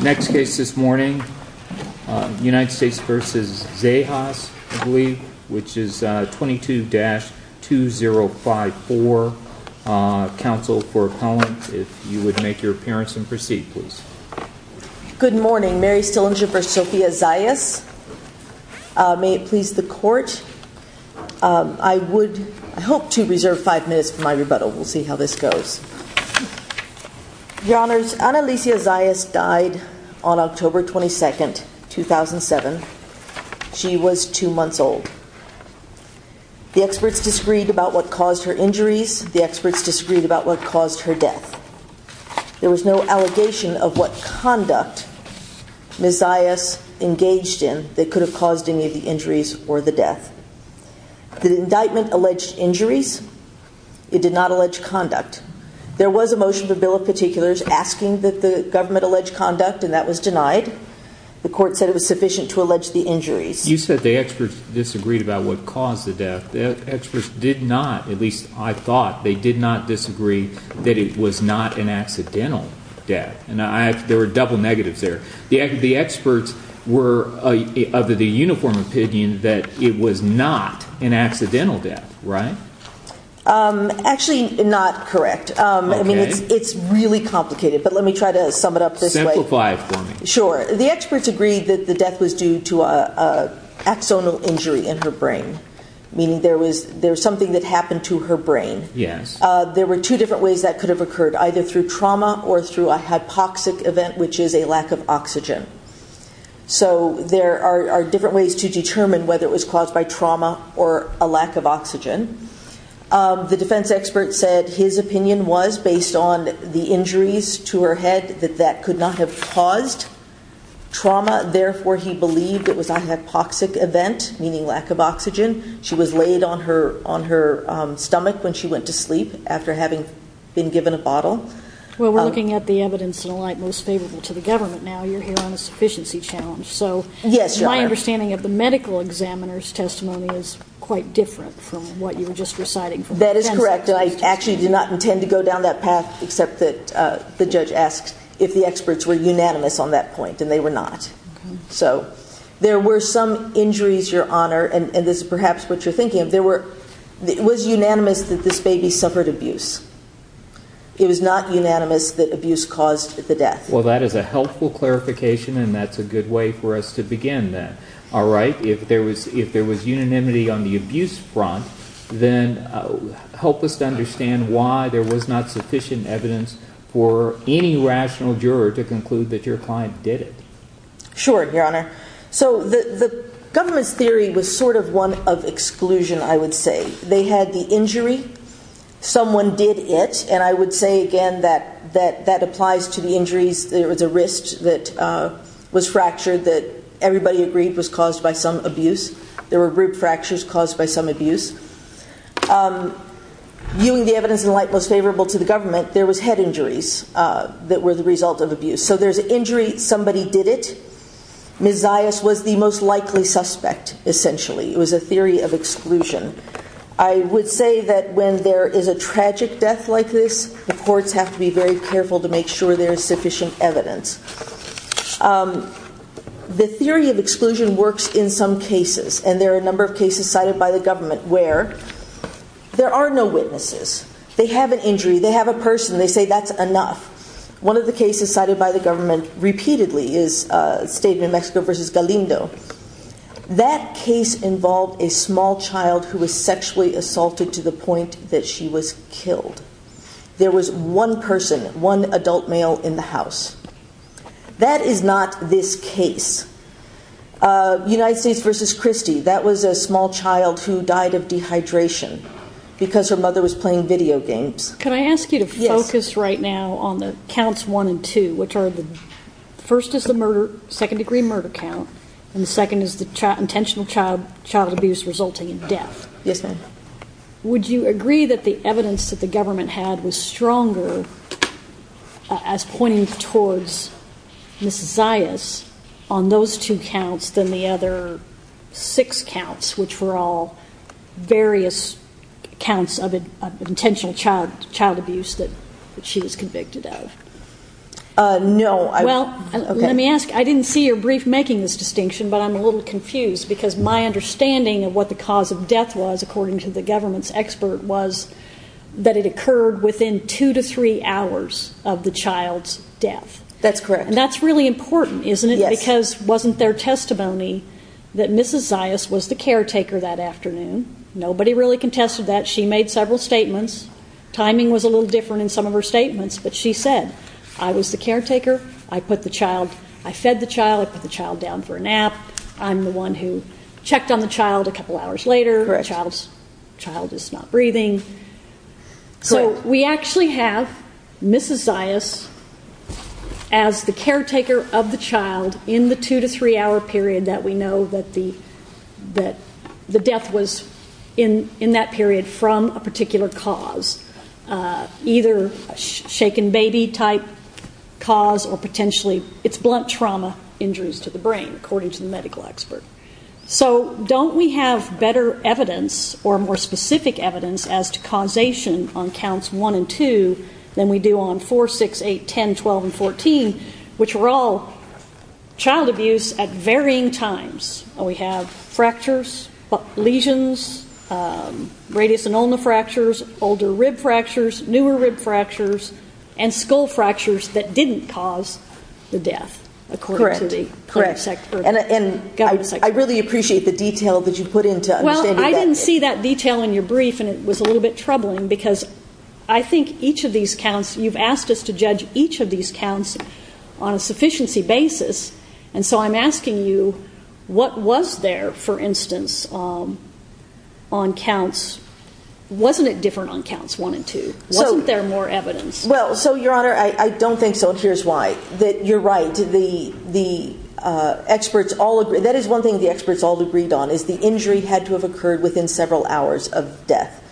Next case this morning, United States v. Zayas, I believe, which is 22-2054. Counsel for Collins, if you would make your appearance and proceed, please. Good morning. Mary Stillinger v. Sophia Zayas. May it please the court? I would hope to reserve five minutes for my rebuttal. We'll see how this goes. Your Honors, Anneliese Zayas died on October 22, 2007. She was two months old. The experts disagreed about what caused her injuries. The experts disagreed about what caused her death. There was no allegation of what conduct Ms. Zayas engaged in that could have caused any of the injuries or the death. The indictment alleged injuries. It did not allege conduct. There was a motion to the Bill of Particulars asking that the government allege conduct, and that was denied. The court said it was sufficient to allege the injuries. You said the experts disagreed about what caused the death. The experts did not, at least I thought, they did not disagree that it was not an accidental death. There were double negatives there. The experts were of the uniform opinion that it was not an accidental death, right? Actually, not correct. I mean, it's really complicated, but let me try to sum it up this way. Simplify it for me. Sure. The experts agreed that the death was due to an axonal injury in her brain, meaning there was something that happened to her brain. There were two different ways that could have occurred, either through trauma or through a hypoxic event, which is a lack of oxygen. So there are different ways to determine whether it was caused by trauma or a lack of oxygen. The defense expert said his opinion was, based on the injuries to her head, that that could not have caused trauma. Therefore, he believed it was a hypoxic event, meaning lack of oxygen. She was laid on her stomach when she went to sleep after having been given a bottle. Well, we're looking at the evidence in a light most favorable to the government now. You're here on a sufficiency challenge. So my understanding of the medical examiner's testimony is quite different from what you were just reciting. That is correct. I actually did not intend to go down that path, except that the judge asked if the experts were unanimous on that point, and they were not. So there were some injuries, Your Honor, and this is perhaps what you're thinking of. It was unanimous that this baby suffered abuse. It was not unanimous that abuse caused the death. Well, that is a helpful clarification, and that's a good way for us to begin, then. All right, if there was unanimity on the abuse front, then help us to understand why there was not sufficient evidence for any rational juror to conclude that your client did it. Sure, Your Honor. So the government's theory was sort of one of exclusion, I would say. They had the injury, someone did it, and I would say again that that applies to the injuries. There was a wrist that was fractured that everybody agreed was caused by some abuse. There were rib fractures caused by some abuse. Viewing the evidence in light most favorable to the government, there was head injuries that were the result of abuse. So there's an injury, somebody did it. Ms. Zayas was the most likely suspect, essentially. It was a theory of exclusion. I would say that when there is a tragic death like this, the courts have to be very careful to make sure there is sufficient evidence. The theory of exclusion works in some cases, and there are a number of cases cited by the government where there are no witnesses. They have an injury, they have a person, they say that's enough. One of the cases cited by the government repeatedly is State of New Mexico v. Galindo. That case involved a small child who was sexually assaulted to the point that she was killed. There was one person, one adult male in the house. That is not this case. United States v. Christie, that was a small child who died of dehydration because her mother was playing video games. Could I ask you to focus right now on the counts one and two, which are the first is the murder, second degree murder count, and the second is the intentional child abuse resulting in death. Yes, ma'am. Would you agree that the evidence that the government had was stronger as pointing towards Ms. Zayas on those two counts than the other six counts, which were all various counts of intentional child abuse that she was convicted of? No. Well, let me ask. I didn't see your brief making this distinction, but I'm a little confused because my understanding of what the cause of death was, according to the government's expert, was that it occurred within two to three hours of the child's death. That's correct. And that's really important, isn't it? Yes. Because wasn't there testimony that Mrs. Zayas was the caretaker that afternoon? Nobody really contested that. She made several statements. Timing was a little different in some of her statements, but she said, I was the caretaker. I put the child, I fed the child. I put the child down for a nap. I'm the one who checked on the child a couple hours later. Correct. The child is not breathing. Correct. So we actually have Mrs. Zayas as the caretaker of the child in the two- to three-hour period that we know that the death was, in that period, from a particular cause, either a shaken baby-type cause or potentially it's blunt trauma injuries to the brain, according to the medical expert. So don't we have better evidence or more specific evidence as to causation on counts one and two than we do on four, six, eight, 10, 12, and 14, which are all child abuse at varying times? We have fractures, lesions, radius and ulna fractures, older rib fractures, newer rib fractures, and skull fractures that didn't cause the death, according to the clinical expert. I really appreciate the detail that you put into understanding that. Well, I didn't see that detail in your brief, and it was a little bit troubling because I think each of these counts, you've asked us to judge each of these counts on a sufficiency basis. And so I'm asking you, what was there, for instance, on counts? Wasn't it different on counts one and two? Wasn't there more evidence? Well, so, Your Honor, I don't think so, and here's why. I think that you're right. The experts all agree. That is one thing the experts all agreed on is the injury had to have occurred within several hours of death,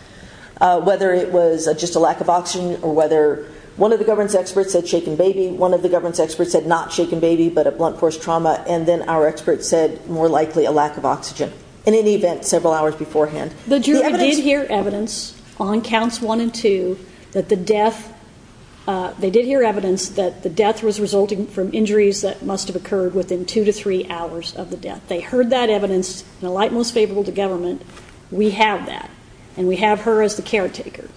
whether it was just a lack of oxygen or whether one of the governance experts said shaken baby, one of the governance experts said not shaken baby but a blunt force trauma, and then our experts said more likely a lack of oxygen, in any event, several hours beforehand. The jury did hear evidence on counts one and two that the death, they did hear evidence that the death was resulting from injuries that must have occurred within two to three hours of the death. They heard that evidence in a light most favorable to government. We have that, and we have her as the caretaker.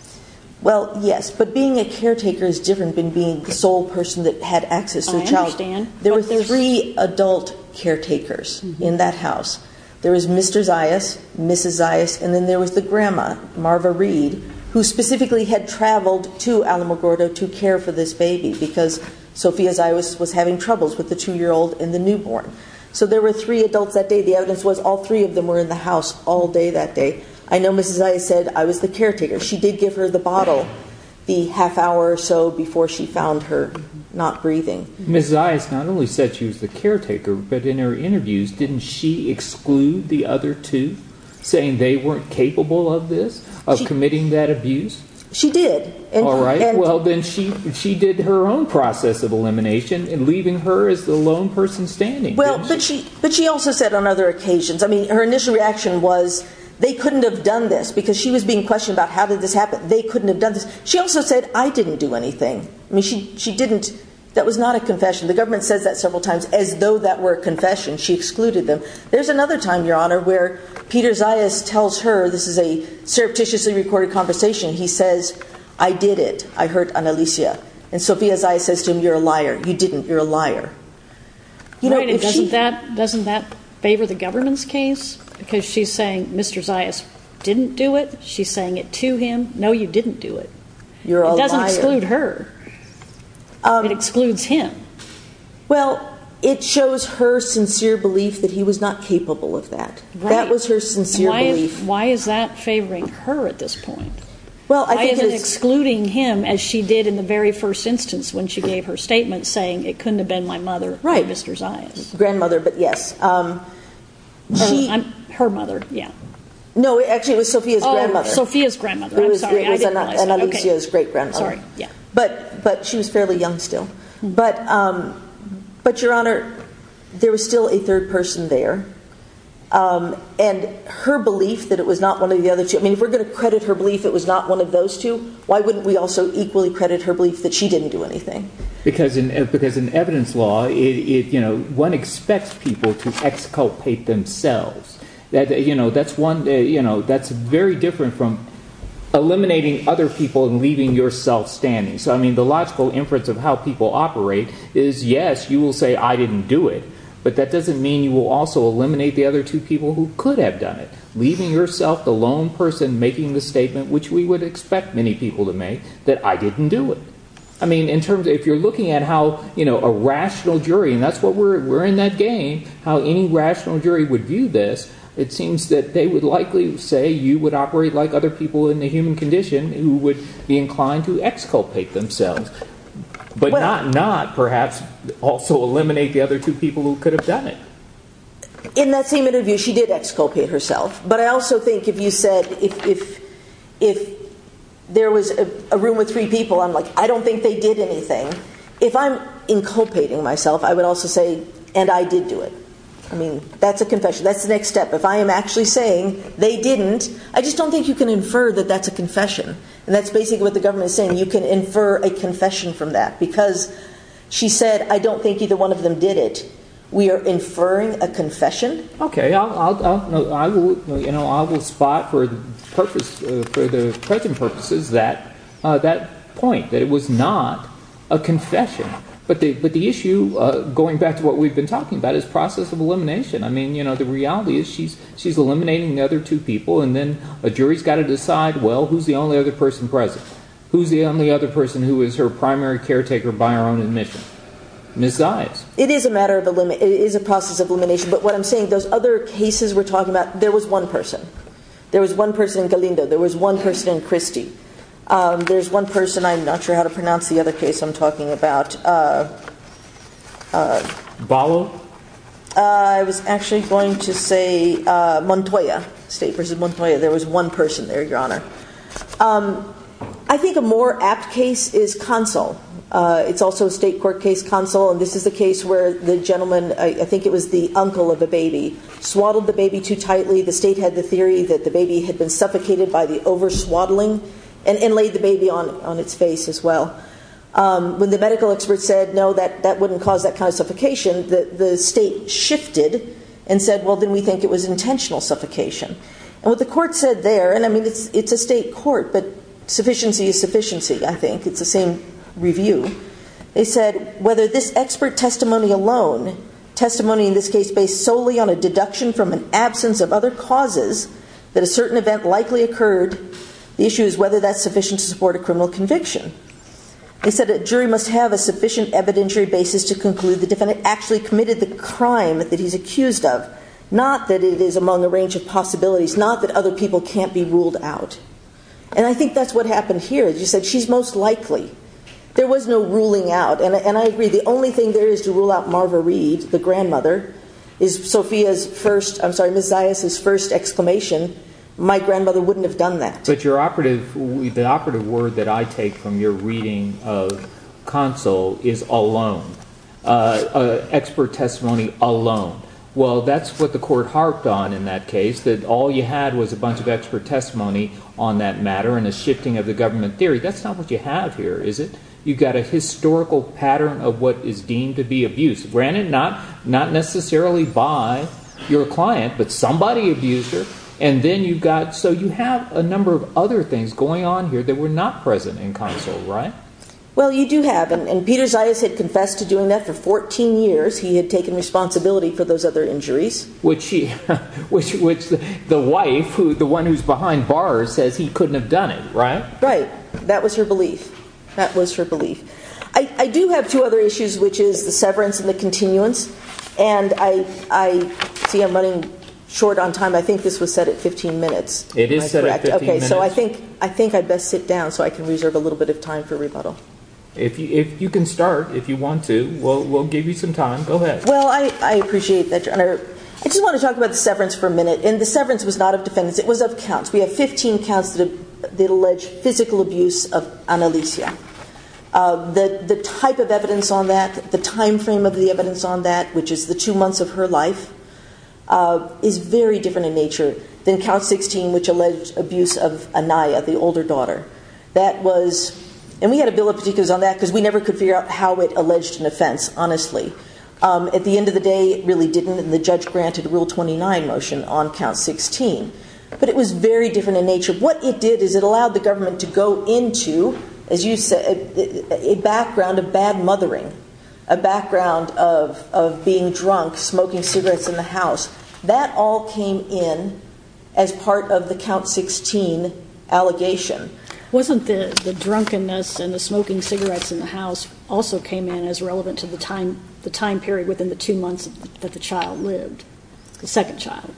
Well, yes, but being a caretaker is different than being the sole person that had access to a child. I understand. There were three adult caretakers in that house. There was Mr. Zayas, Mrs. Zayas, and then there was the grandma, Marva Reed, who specifically had traveled to Alamogordo to care for this baby because Sophia Zayas was having troubles with the 2-year-old and the newborn. So there were three adults that day. The evidence was all three of them were in the house all day that day. I know Mrs. Zayas said I was the caretaker. She did give her the bottle the half hour or so before she found her not breathing. Mrs. Zayas not only said she was the caretaker, but in her interviews, didn't she exclude the other two saying they weren't capable of this, of committing that abuse? She did. All right. Well, then she did her own process of elimination in leaving her as the lone person standing. Well, but she also said on other occasions. I mean, her initial reaction was they couldn't have done this because she was being questioned about how did this happen. They couldn't have done this. She also said I didn't do anything. I mean, she didn't. That was not a confession. The government says that several times as though that were a confession. She excluded them. There's another time, Your Honor, where Peter Zayas tells her this is a surreptitiously recorded conversation. He says I did it. I hurt Annalisa. And Sophia Zayas says to him you're a liar. You didn't. You're a liar. Doesn't that favor the government's case? Because she's saying Mr. Zayas didn't do it. She's saying it to him. No, you didn't do it. You're a liar. It doesn't exclude her. It excludes him. Well, it shows her sincere belief that he was not capable of that. That was her sincere belief. Why is that favoring her at this point? Why is it excluding him as she did in the very first instance when she gave her statement saying it couldn't have been my mother or Mr. Zayas? Grandmother, but yes. Her mother, yeah. No, actually it was Sophia's grandmother. Oh, Sophia's grandmother. I'm sorry. It was Annalisa's great-grandmother. Sorry, yeah. But she was fairly young still. But, Your Honor, there was still a third person there. And her belief that it was not one of the other two, I mean if we're going to credit her belief it was not one of those two, why wouldn't we also equally credit her belief that she didn't do anything? Because in evidence law, one expects people to exculpate themselves. That's very different from eliminating other people and leaving yourself standing. So, I mean, the logical inference of how people operate is, yes, you will say I didn't do it, but that doesn't mean you will also eliminate the other two people who could have done it. Leaving yourself the lone person making the statement, which we would expect many people to make, that I didn't do it. I mean, in terms of if you're looking at how a rational jury, and that's what we're in that game, how any rational jury would view this, it seems that they would likely say you would operate like other people in the human condition who would be inclined to exculpate themselves, but not perhaps also eliminate the other two people who could have done it. In that same interview, she did exculpate herself. But I also think if you said if there was a room with three people, I'm like, I don't think they did anything. If I'm inculpating myself, I would also say, and I did do it. I mean, that's a confession. That's the next step. If I am actually saying they didn't, I just don't think you can infer that that's a confession. And that's basically what the government is saying. You can infer a confession from that. Because she said I don't think either one of them did it. We are inferring a confession? Okay. I will spot for the present purposes that point, that it was not a confession. But the issue, going back to what we've been talking about, is process of elimination. I mean, the reality is she's eliminating the other two people, and then a jury's got to decide, well, who's the only other person present? Who's the only other person who is her primary caretaker by her own admission? It is a process of elimination. But what I'm saying, those other cases we're talking about, there was one person. There was one person in Galindo. There was one person in Christie. There's one person, I'm not sure how to pronounce the other case I'm talking about. Ballo? I was actually going to say Montoya. State versus Montoya. There was one person there, Your Honor. I think a more apt case is Consul. It's also a state court case, Consul. And this is the case where the gentleman, I think it was the uncle of the baby, swaddled the baby too tightly. The state had the theory that the baby had been suffocated by the over-swaddling and laid the baby on its face as well. When the medical expert said, no, that wouldn't cause that kind of suffocation, the state shifted and said, well, then we think it was intentional suffocation. And what the court said there, and I mean, it's a state court, but sufficiency is sufficiency, I think. It's the same review. They said whether this expert testimony alone, testimony in this case based solely on a deduction from an absence of other causes that a certain event likely occurred, the issue is whether that's sufficient to support a criminal conviction. They said a jury must have a sufficient evidentiary basis to conclude the defendant actually committed the crime that he's accused of, not that it is among a range of possibilities, not that other people can't be ruled out. And I think that's what happened here. They said she's most likely. There was no ruling out, and I agree, the only thing there is to rule out Marva Reed, the grandmother, is Sophia's first, I'm sorry, Ms. Zayas' first exclamation, my grandmother wouldn't have done that. But your operative, the operative word that I take from your reading of console is alone, expert testimony alone. Well, that's what the court harped on in that case, that all you had was a bunch of expert testimony on that matter and a shifting of the government theory. That's not what you have here, is it? You've got a historical pattern of what is deemed to be abuse, granted not necessarily by your client, but somebody abused her, and then you've got, so you have a number of other things going on here that were not present in console, right? Well, you do have, and Peter Zayas had confessed to doing that for 14 years. He had taken responsibility for those other injuries. Which the wife, the one who's behind bars, says he couldn't have done it, right? Right. That was her belief. That was her belief. I do have two other issues, which is the severance and the continuance, and I see I'm running short on time. I think this was set at 15 minutes. It is set at 15 minutes. Okay, so I think I'd best sit down so I can reserve a little bit of time for rebuttal. If you can start, if you want to, we'll give you some time. Go ahead. Well, I appreciate that, Your Honor. I just want to talk about the severance for a minute, and the severance was not of defendants. It was of counts. We have 15 counts that allege physical abuse of Annalicia. The type of evidence on that, the time frame of the evidence on that, which is the two months of her life, is very different in nature than Count 16, which alleged abuse of Anaya, the older daughter. That was, and we had a bill of particulars on that because we never could figure out how it alleged an offense, honestly. At the end of the day, it really didn't, and the judge granted Rule 29 motion on Count 16. But it was very different in nature. What it did is it allowed the government to go into, as you said, a background of bad mothering, a background of being drunk, smoking cigarettes in the house. That all came in as part of the Count 16 allegation. Wasn't the drunkenness and the smoking cigarettes in the house also came in as relevant to the time period within the two months that the child lived, the second child?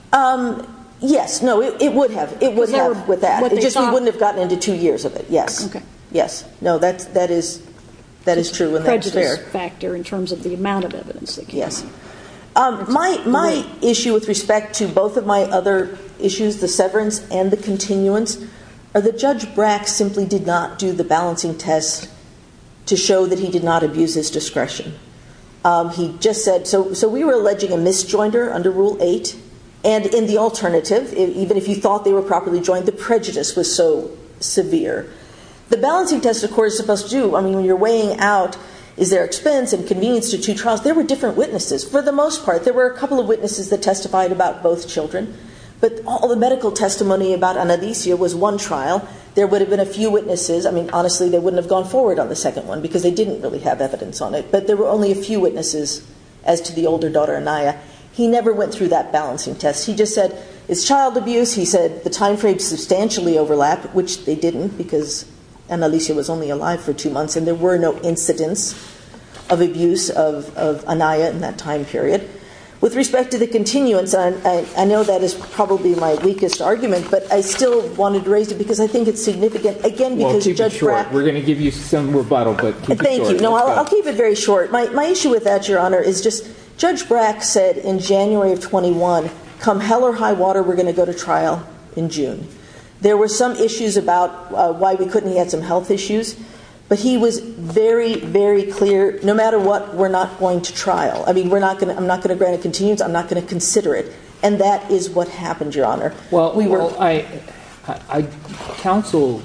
Yes. No, it would have. It would have with that. It's just we wouldn't have gotten into two years of it. Yes. No, that is true, and that's fair. It's a prejudice factor in terms of the amount of evidence that came out. My issue with respect to both of my other issues, the severance and the continuance, are that Judge Brack simply did not do the balancing test to show that he did not abuse his discretion. He just said, so we were alleging a misjoinder under Rule 8, and in the alternative, even if you thought they were properly joined, the prejudice was so severe. The balancing test, of course, is supposed to do, I mean, when you're weighing out, is there expense and convenience to two trials? There were different witnesses. For the most part, there were a couple of witnesses that testified about both children, but all the medical testimony about Anaricia was one trial. There would have been a few witnesses. I mean, honestly, they wouldn't have gone forward on the second one because they didn't really have evidence on it. But there were only a few witnesses as to the older daughter, Anaya. He never went through that balancing test. He just said, it's child abuse. He said the timeframe substantially overlapped, which they didn't because Anaricia was only alive for two months, and there were no incidents of abuse of Anaya in that time period. With respect to the continuance, I know that is probably my weakest argument, but I still wanted to raise it because I think it's significant, again, because Judge Brack— We're going to give you some rebuttal, but keep it short. Thank you. No, I'll keep it very short. My issue with that, Your Honor, is just Judge Brack said in January of 21, come hell or high water, we're going to go to trial in June. There were some issues about why we couldn't. He had some health issues. But he was very, very clear, no matter what, we're not going to trial. I mean, I'm not going to grant a continuance. I'm not going to consider it. And that is what happened, Your Honor. Well, counsel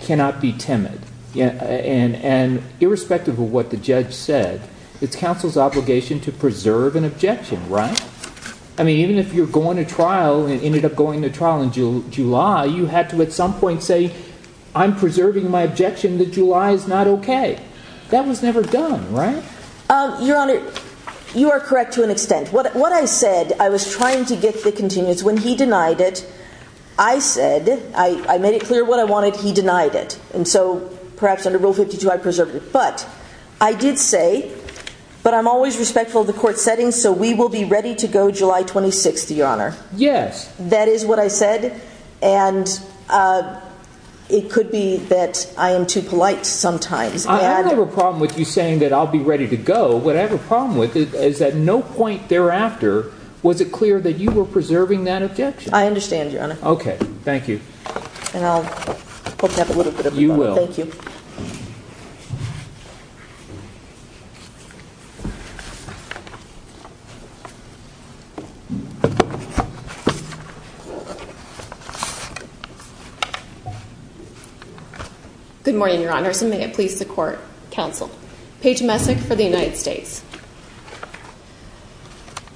cannot be timid. And irrespective of what the judge said, it's counsel's obligation to preserve an objection, right? I mean, even if you're going to trial and ended up going to trial in July, you had to at some point say, I'm preserving my objection that July is not okay. That was never done, right? Your Honor, you are correct to an extent. What I said, I was trying to get the continuance. When he denied it, I said, I made it clear what I wanted. He denied it. And so perhaps under Rule 52, I preserved it. But I did say, but I'm always respectful of the court's settings, so we will be ready to go July 26th, Your Honor. Yes. That is what I said. And it could be that I am too polite sometimes. I don't have a problem with you saying that I'll be ready to go. What I have a problem with is that no point thereafter was it clear that you were preserving that objection. I understand, Your Honor. Okay. Thank you. And I'll open up a little bit of it. You will. Thank you. Good morning, Your Honor. Your Honor, may it please the court, counsel, Paige Messick for the United States.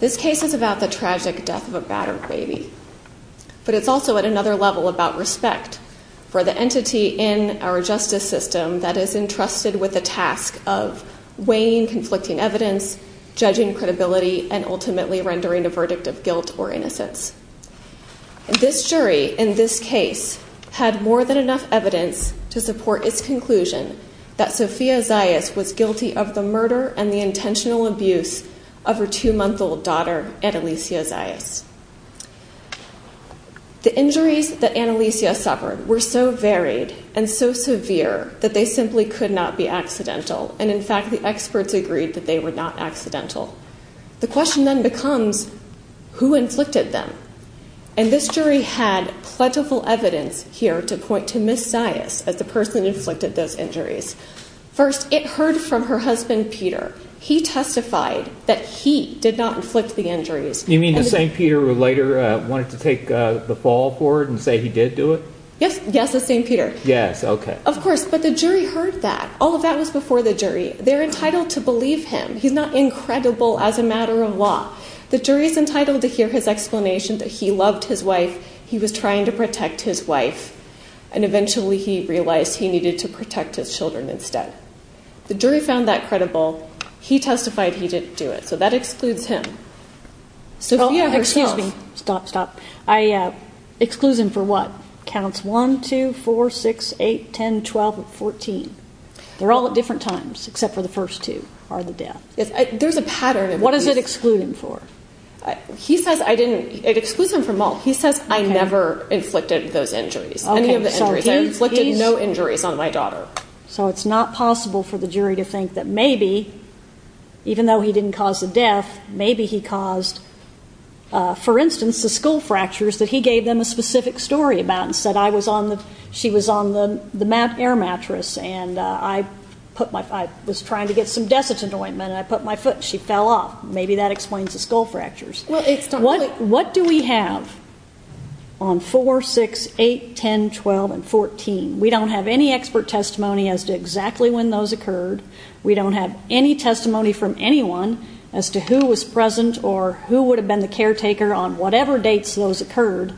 This case is about the tragic death of a battered baby. But it's also at another level about respect for the entity in our justice system that is entrusted with the task of weighing conflicting evidence, judging credibility, and ultimately rendering a verdict of guilt or innocence. This jury in this case had more than enough evidence to support its conclusion that Sophia Zayas was guilty of the murder and the intentional abuse of her two-month-old daughter, Analicia Zayas. The injuries that Analicia suffered were so varied and so severe that they simply could not be accidental. And, in fact, the experts agreed that they were not accidental. The question then becomes, who inflicted them? And this jury had plentiful evidence here to point to Ms. Zayas as the person who inflicted those injuries. First, it heard from her husband, Peter. He testified that he did not inflict the injuries. You mean the same Peter who later wanted to take the fall for it and say he did do it? Yes, yes, the same Peter. Yes, okay. Of course. But the jury heard that. All of that was before the jury. They're entitled to believe him. He's not incredible as a matter of law. The jury is entitled to hear his explanation that he loved his wife, he was trying to protect his wife, and eventually he realized he needed to protect his children instead. The jury found that credible. He testified he didn't do it. So that excludes him. Sophia herself. Excuse me. Stop, stop. I exclude him for what? Counts 1, 2, 4, 6, 8, 10, 12, 14. They're all at different times except for the first two are the deaths. There's a pattern. What does it exclude him for? He says I didn't. It excludes him from all. He says I never inflicted those injuries, any of the injuries. I inflicted no injuries on my daughter. So it's not possible for the jury to think that maybe, even though he didn't cause the death, maybe he caused, for instance, the skull fractures that he gave them a specific story about and said she was on the air mattress, and I was trying to get some desiccant ointment, and I put my foot, and she fell off. Maybe that explains the skull fractures. What do we have on 4, 6, 8, 10, 12, and 14? We don't have any expert testimony as to exactly when those occurred. We don't have any testimony from anyone as to who was present or who would have been the caretaker on whatever dates those occurred.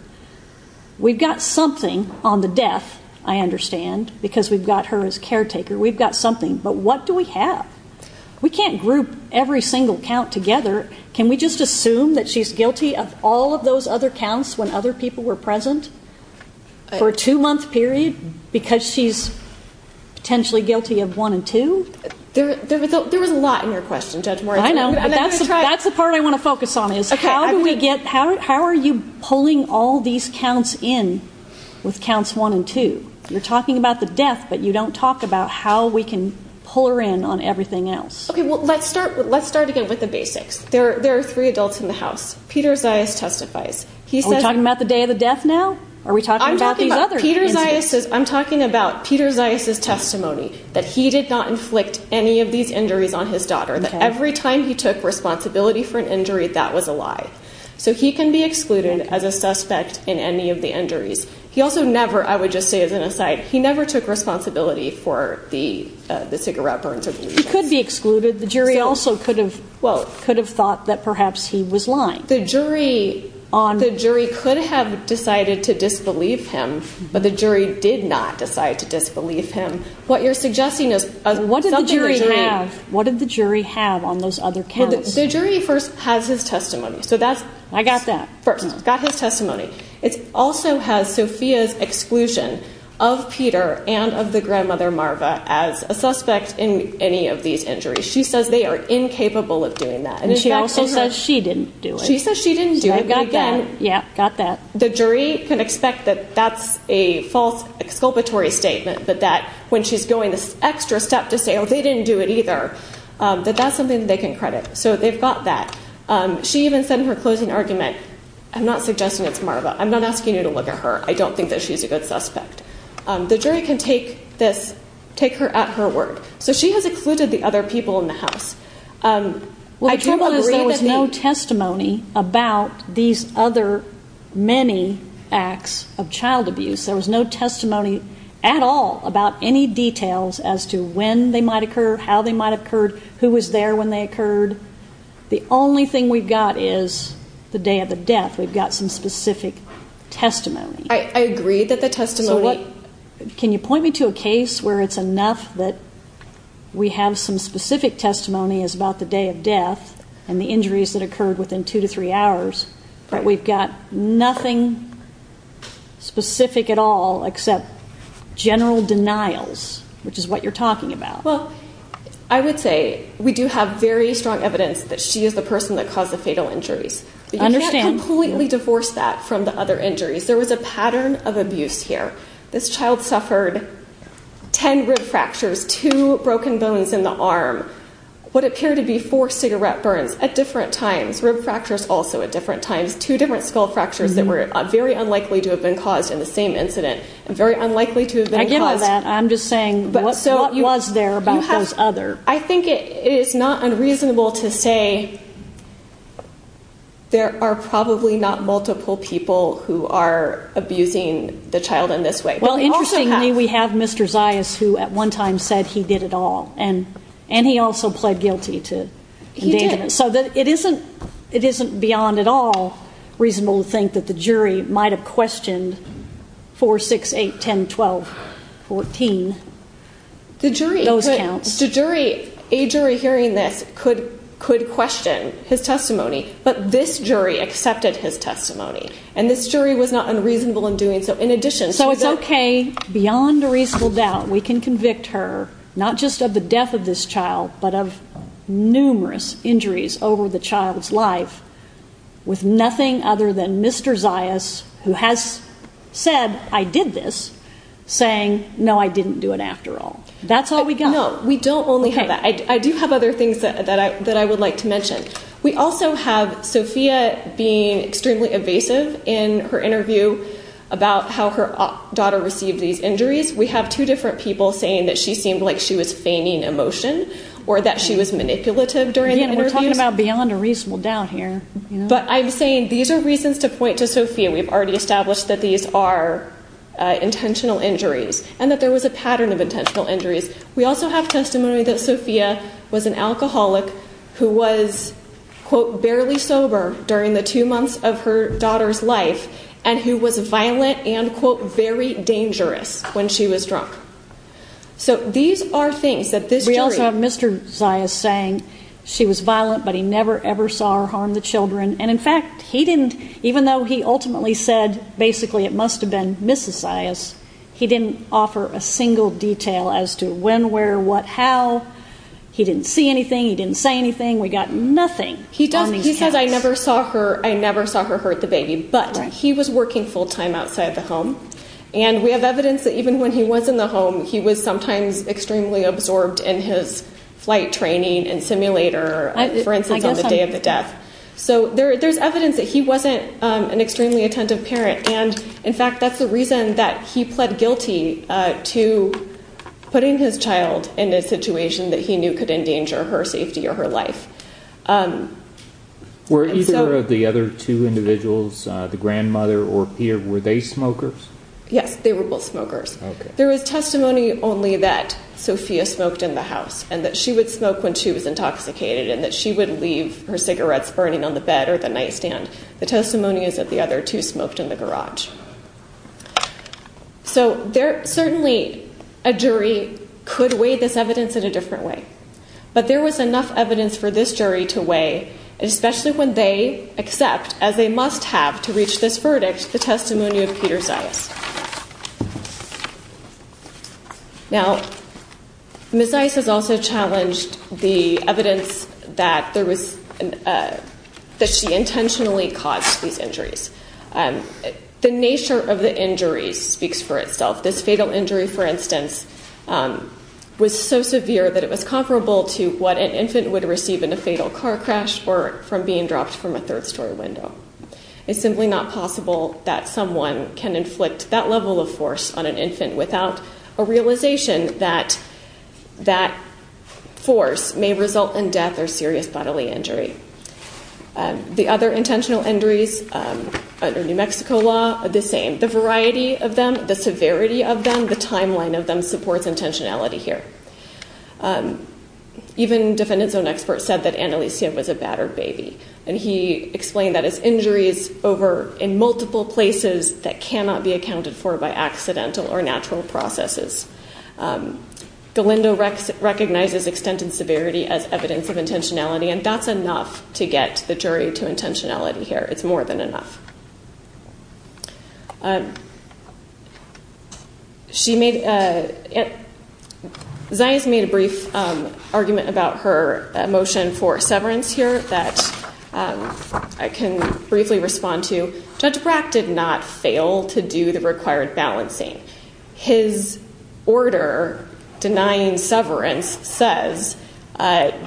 We've got something on the death, I understand, because we've got her as caretaker. We've got something. But what do we have? We can't group every single count together. Can we just assume that she's guilty of all of those other counts when other people were present for a two-month period because she's potentially guilty of one and two? There was a lot in your question, Judge Moritz. I know, but that's the part I want to focus on, is how are you pulling all these counts in with counts one and two? You're talking about the death, but you don't talk about how we can pull her in on everything else. Okay, well, let's start again with the basics. There are three adults in the house. Peter Zayas testifies. Are we talking about the day of the death now? Are we talking about these other instances? I'm talking about Peter Zayas' testimony, that he did not inflict any of these injuries on his daughter, that every time he took responsibility for an injury, that was a lie. So he can be excluded as a suspect in any of the injuries. He also never, I would just say as an aside, he never took responsibility for the cigarette burns. He could be excluded. The jury also could have thought that perhaps he was lying. The jury could have decided to disbelieve him, but the jury did not decide to disbelieve him. What did the jury have on those other counts? The jury first has his testimony. I got that. First, got his testimony. It also has Sophia's exclusion of Peter and of the grandmother, Marva, as a suspect in any of these injuries. She says they are incapable of doing that. And she also says she didn't do it. She says she didn't do it, but again, the jury can expect that that's a false exculpatory statement, but that when she's going this extra step to say, oh, they didn't do it either, that that's something they can credit. So they've got that. She even said in her closing argument, I'm not suggesting it's Marva. I'm not asking you to look at her. I don't think that she's a good suspect. The jury can take this, take her at her word. So she has excluded the other people in the house. Well, the trouble is there was no testimony about these other many acts of child abuse. There was no testimony at all about any details as to when they might occur, how they might have occurred, who was there when they occurred. The only thing we've got is the day of the death. We've got some specific testimony. I agree that the testimony. Can you point me to a case where it's enough that we have some specific testimony as about the day of death and the injuries that occurred within two to three hours, but we've got nothing specific at all except general denials, which is what you're talking about. Well, I would say we do have very strong evidence that she is the person that caused the fatal injuries. But you can't completely divorce that from the other injuries. There was a pattern of abuse here. This child suffered ten rib fractures, two broken bones in the arm, what appeared to be four cigarette burns at different times, six rib fractures also at different times, two different skull fractures that were very unlikely to have been caused in the same incident. Very unlikely to have been caused. I get all that. I'm just saying what was there about those other. I think it is not unreasonable to say there are probably not multiple people who are abusing the child in this way. Well, interestingly, we have Mr. Zayas who at one time said he did it all, and he also pled guilty to endangerment. He did. So it isn't beyond at all reasonable to think that the jury might have questioned 4, 6, 8, 10, 12, 14. Those counts. A jury hearing this could question his testimony, but this jury accepted his testimony. And this jury was not unreasonable in doing so. So it's okay beyond a reasonable doubt we can convict her not just of the death of this child, but of numerous injuries over the child's life with nothing other than Mr. Zayas who has said, I did this, saying, no, I didn't do it after all. That's all we got. No, we don't only have that. We also have Sophia being extremely evasive in her interview about how her daughter received these injuries. We have two different people saying that she seemed like she was feigning emotion or that she was manipulative during the interview. Again, we're talking about beyond a reasonable doubt here. But I'm saying these are reasons to point to Sophia. We've already established that these are intentional injuries and that there was a pattern of intentional injuries. We also have testimony that Sophia was an alcoholic who was, quote, barely sober during the two months of her daughter's life and who was violent and, quote, very dangerous when she was drunk. So these are things that this jury. We also have Mr. Zayas saying she was violent, but he never, ever saw her harm the children. And, in fact, he didn't, even though he ultimately said basically it must have been Mrs. Zayas, he didn't offer a single detail as to when, where, what, how. He didn't see anything. He didn't say anything. We got nothing on these counts. He does. He says, I never saw her hurt the baby. But he was working full time outside the home. And we have evidence that even when he was in the home, he was sometimes extremely absorbed in his flight training and simulator, for instance, on the day of the death. So there's evidence that he wasn't an extremely attentive parent. And, in fact, that's the reason that he pled guilty to putting his child in a situation that he knew could endanger her safety or her life. Were either of the other two individuals, the grandmother or Pierre, were they smokers? Yes, they were both smokers. There was testimony only that Sophia smoked in the house and that she would smoke when she was intoxicated and that she would leave her cigarettes burning on the bed or the nightstand. The testimony is that the other two smoked in the garage. So certainly a jury could weigh this evidence in a different way. But there was enough evidence for this jury to weigh, especially when they accept, as they must have to reach this verdict, the testimony of Peter Zais. Now, Ms. Zais has also challenged the evidence that she intentionally caused these injuries. The nature of the injuries speaks for itself. This fatal injury, for instance, was so severe that it was comparable to what an infant would receive in a fatal car crash or from being dropped from a third-story window. It's simply not possible that someone can inflict that level of force on an infant without a realization that that force may result in death or serious bodily injury. The other intentional injuries under New Mexico law are the same. The variety of them, the severity of them, the timeline of them supports intentionality here. Even defendant's own experts said that Annalisa was a battered baby. And he explained that as injuries over in multiple places that cannot be accounted for by accidental or natural processes. Galindo recognizes extent and severity as evidence of intentionality, and that's enough to get the jury to intentionality here. It's more than enough. Zais made a brief argument about her motion for severance here that I can briefly respond to. Judge Brack did not fail to do the required balancing. His order denying severance says the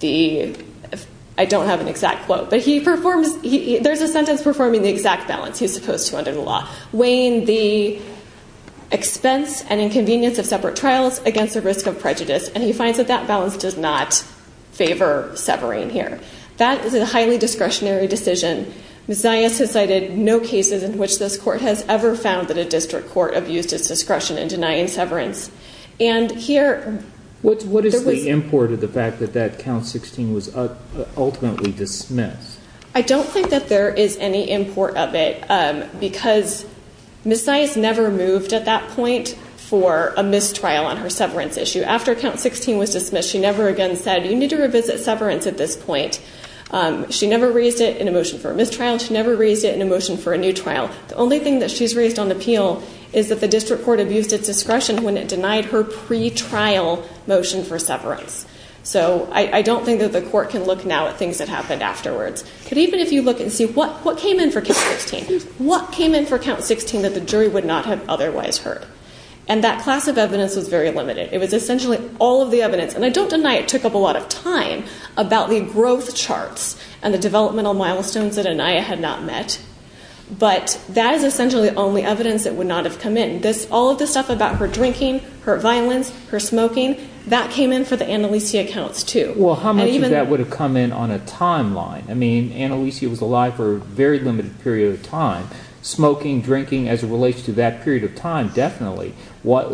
‑‑ I don't have an exact quote, but there's a sentence performing the exact balance he's supposed to under the law, weighing the expense and inconvenience of separate trials against the risk of prejudice, and he finds that that balance does not favor severing here. That is a highly discretionary decision. Ms. Zais has cited no cases in which this court has ever found that a district court abused its discretion in denying severance. And here ‑‑ What is the import of the fact that that count 16 was ultimately dismissed? I don't think that there is any import of it, because Ms. Zais never moved at that point for a mistrial on her severance issue. After count 16 was dismissed, she never again said, you need to revisit severance at this point. She never raised it in a motion for a mistrial, and she never raised it in a motion for a new trial. The only thing that she's raised on appeal is that the district court abused its discretion when it denied her pretrial motion for severance. So I don't think that the court can look now at things that happened afterwards. But even if you look and see what came in for count 16, what came in for count 16 that the jury would not have otherwise heard? And that class of evidence was very limited. It was essentially all of the evidence, and I don't deny it took up a lot of time, about the growth charts and the developmental milestones that Aniyah had not met, but that is essentially the only evidence that would not have come in. All of the stuff about her drinking, her violence, her smoking, that came in for the Annalisa counts too. Well, how much of that would have come in on a timeline? I mean, Annalisa was alive for a very limited period of time. Smoking, drinking, as it relates to that period of time, definitely.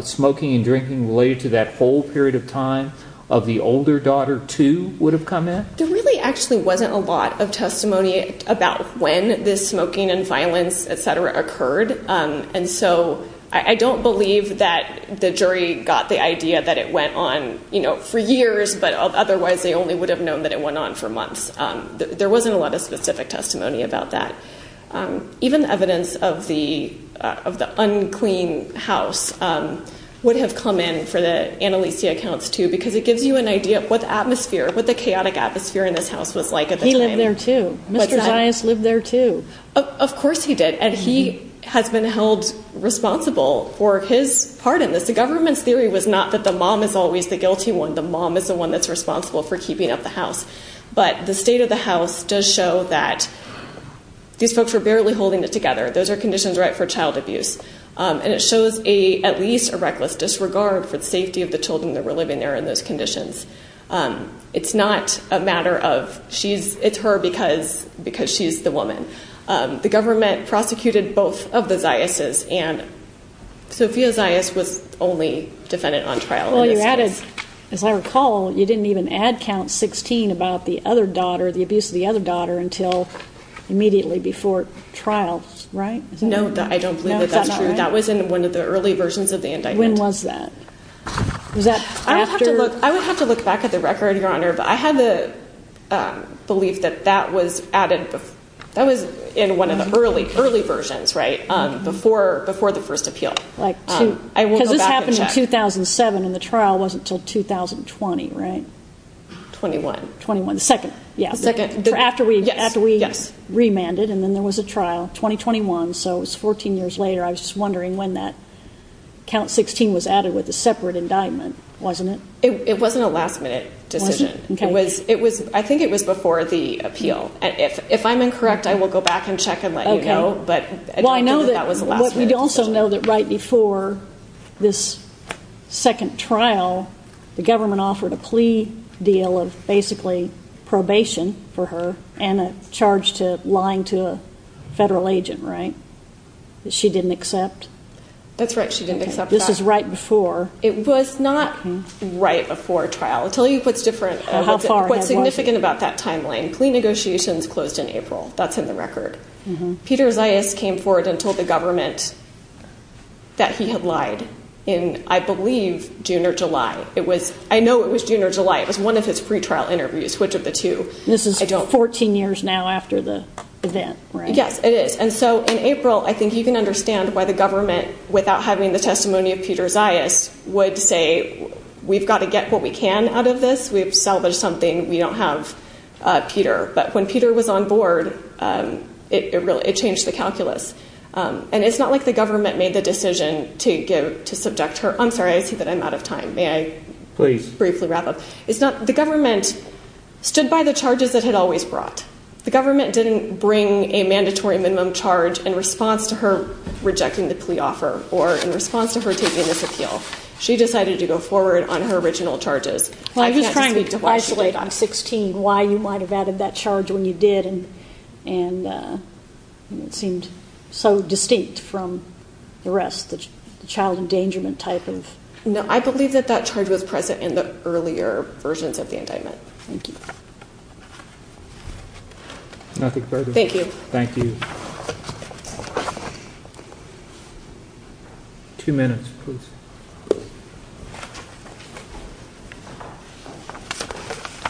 Smoking and drinking related to that whole period of time of the older daughter too would have come in? There really actually wasn't a lot of testimony about when this smoking and violence, et cetera, occurred. And so I don't believe that the jury got the idea that it went on, you know, for years, but otherwise they only would have known that it went on for months. There wasn't a lot of specific testimony about that. Even evidence of the unclean house would have come in for the Annalisa accounts too, because it gives you an idea of what the chaotic atmosphere in this house was like at the time. He lived there too. Mr. Zayas lived there too. Of course he did. And he has been held responsible for his part in this. The government's theory was not that the mom is always the guilty one. The mom is the one that's responsible for keeping up the house. But the state of the house does show that these folks were barely holding it together. Those are conditions right for child abuse. And it shows at least a reckless disregard for the safety of the children that were living there in those conditions. It's not a matter of it's her because she's the woman. The government prosecuted both of the Zayases, and Sophia Zayas was only defendant on trial. Well, you added, as I recall, you didn't even add count 16 about the other daughter, the abuse of the other daughter until immediately before trial, right? No, I don't believe that that's true. That was in one of the early versions of the indictment. When was that? I would have to look back at the record, Your Honor. But I had the belief that that was added. That was in one of the early, early versions, right, before the first appeal. I will go back and check. Because this happened in 2007, and the trial wasn't until 2020, right? 21. The second, yeah. The second. After we remanded, and then there was a trial. 2021, so it was 14 years later. I was just wondering when that count 16 was added with a separate indictment, wasn't it? It wasn't a last-minute decision. It wasn't? Okay. I think it was before the appeal. If I'm incorrect, I will go back and check and let you know. Okay. But I know that that was a last-minute decision. But we also know that right before this second trial, the government offered a plea deal of basically probation for her and a charge to lying to a federal agent, right, that she didn't accept? That's right. She didn't accept that. This is right before. It was not right before trial. I'll tell you what's different, what's significant about that timeline. Plea negotiations closed in April. That's in the record. Peter Zayas came forward and told the government that he had lied in, I believe, June or July. I know it was June or July. It was one of his pretrial interviews, which of the two? This is 14 years now after the event, right? Yes, it is. And so in April, I think you can understand why the government, without having the testimony of Peter Zayas, would say we've got to get what we can out of this. We've salvaged something. We don't have Peter. But when Peter was on board, it changed the calculus. And it's not like the government made the decision to subject her. I'm sorry, I see that I'm out of time. May I briefly wrap up? Please. The government stood by the charges it had always brought. The government didn't bring a mandatory minimum charge in response to her rejecting the plea offer or in response to her taking this appeal. She decided to go forward on her original charges. I can't speak to what she did. Well, I'm just trying to isolate on 16 why you might have added that charge when you did and it seemed so distinct from the rest, the child endangerment type of. No, I believe that that charge was present in the earlier versions of the indictment. Thank you. Nothing further. Thank you. Thank you. Two minutes, please.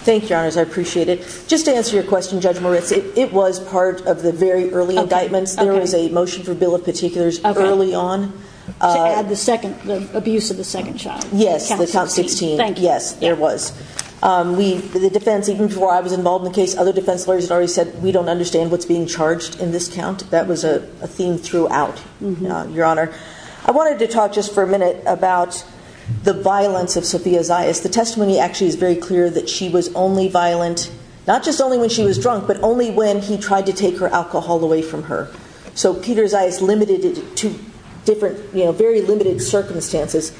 Thank you, Your Honors. I appreciate it. Just to answer your question, Judge Moritz, it was part of the very early indictments. There was a motion for bill of particulars early on. To add the second, the abuse of the second child. Yes, the count 16. Thank you. Yes, there was. The defense, even before I was involved in the case, other defense lawyers had already said, we don't understand what's being charged in this count. That was a theme throughout, Your Honor. I wanted to talk just for a minute about the violence of Sophia Zayas. The testimony actually is very clear that she was only violent, not just only when she was drunk, but only when he tried to take her alcohol away from her. So Peter Zayas limited it to very limited circumstances.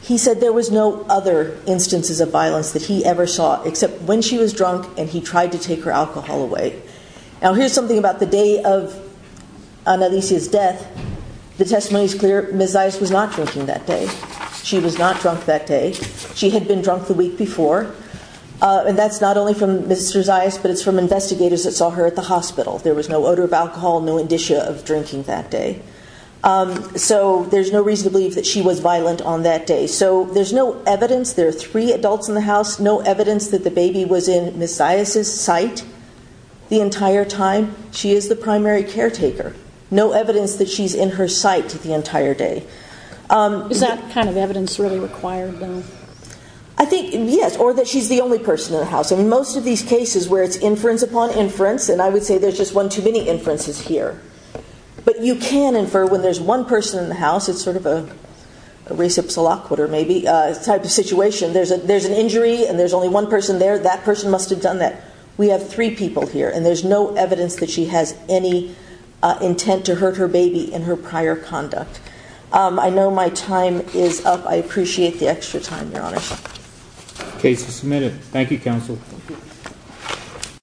He said there was no other instances of violence that he ever saw, except when she was drunk and he tried to take her alcohol away. Now, here's something about the day of Annalisa's death. The testimony is clear. Ms. Zayas was not drinking that day. She was not drunk that day. She had been drunk the week before. And that's not only from Mr. Zayas, but it's from investigators that saw her at the hospital. There was no odor of alcohol, no indicia of drinking that day. So there's no reason to believe that she was violent on that day. So there's no evidence, there are three adults in the house, no evidence that the baby was in Ms. Zayas' sight the entire time. She is the primary caretaker. No evidence that she's in her sight the entire day. Is that kind of evidence really required? So in most of these cases where it's inference upon inference, and I would say there's just one too many inferences here, but you can infer when there's one person in the house, it's sort of a reciprocal type of situation, there's an injury and there's only one person there, that person must have done that. We have three people here, and there's no evidence that she has any intent to hurt her baby in her prior conduct. I know my time is up. I appreciate the extra time, Your Honor. The case is submitted. Thank you, counsel.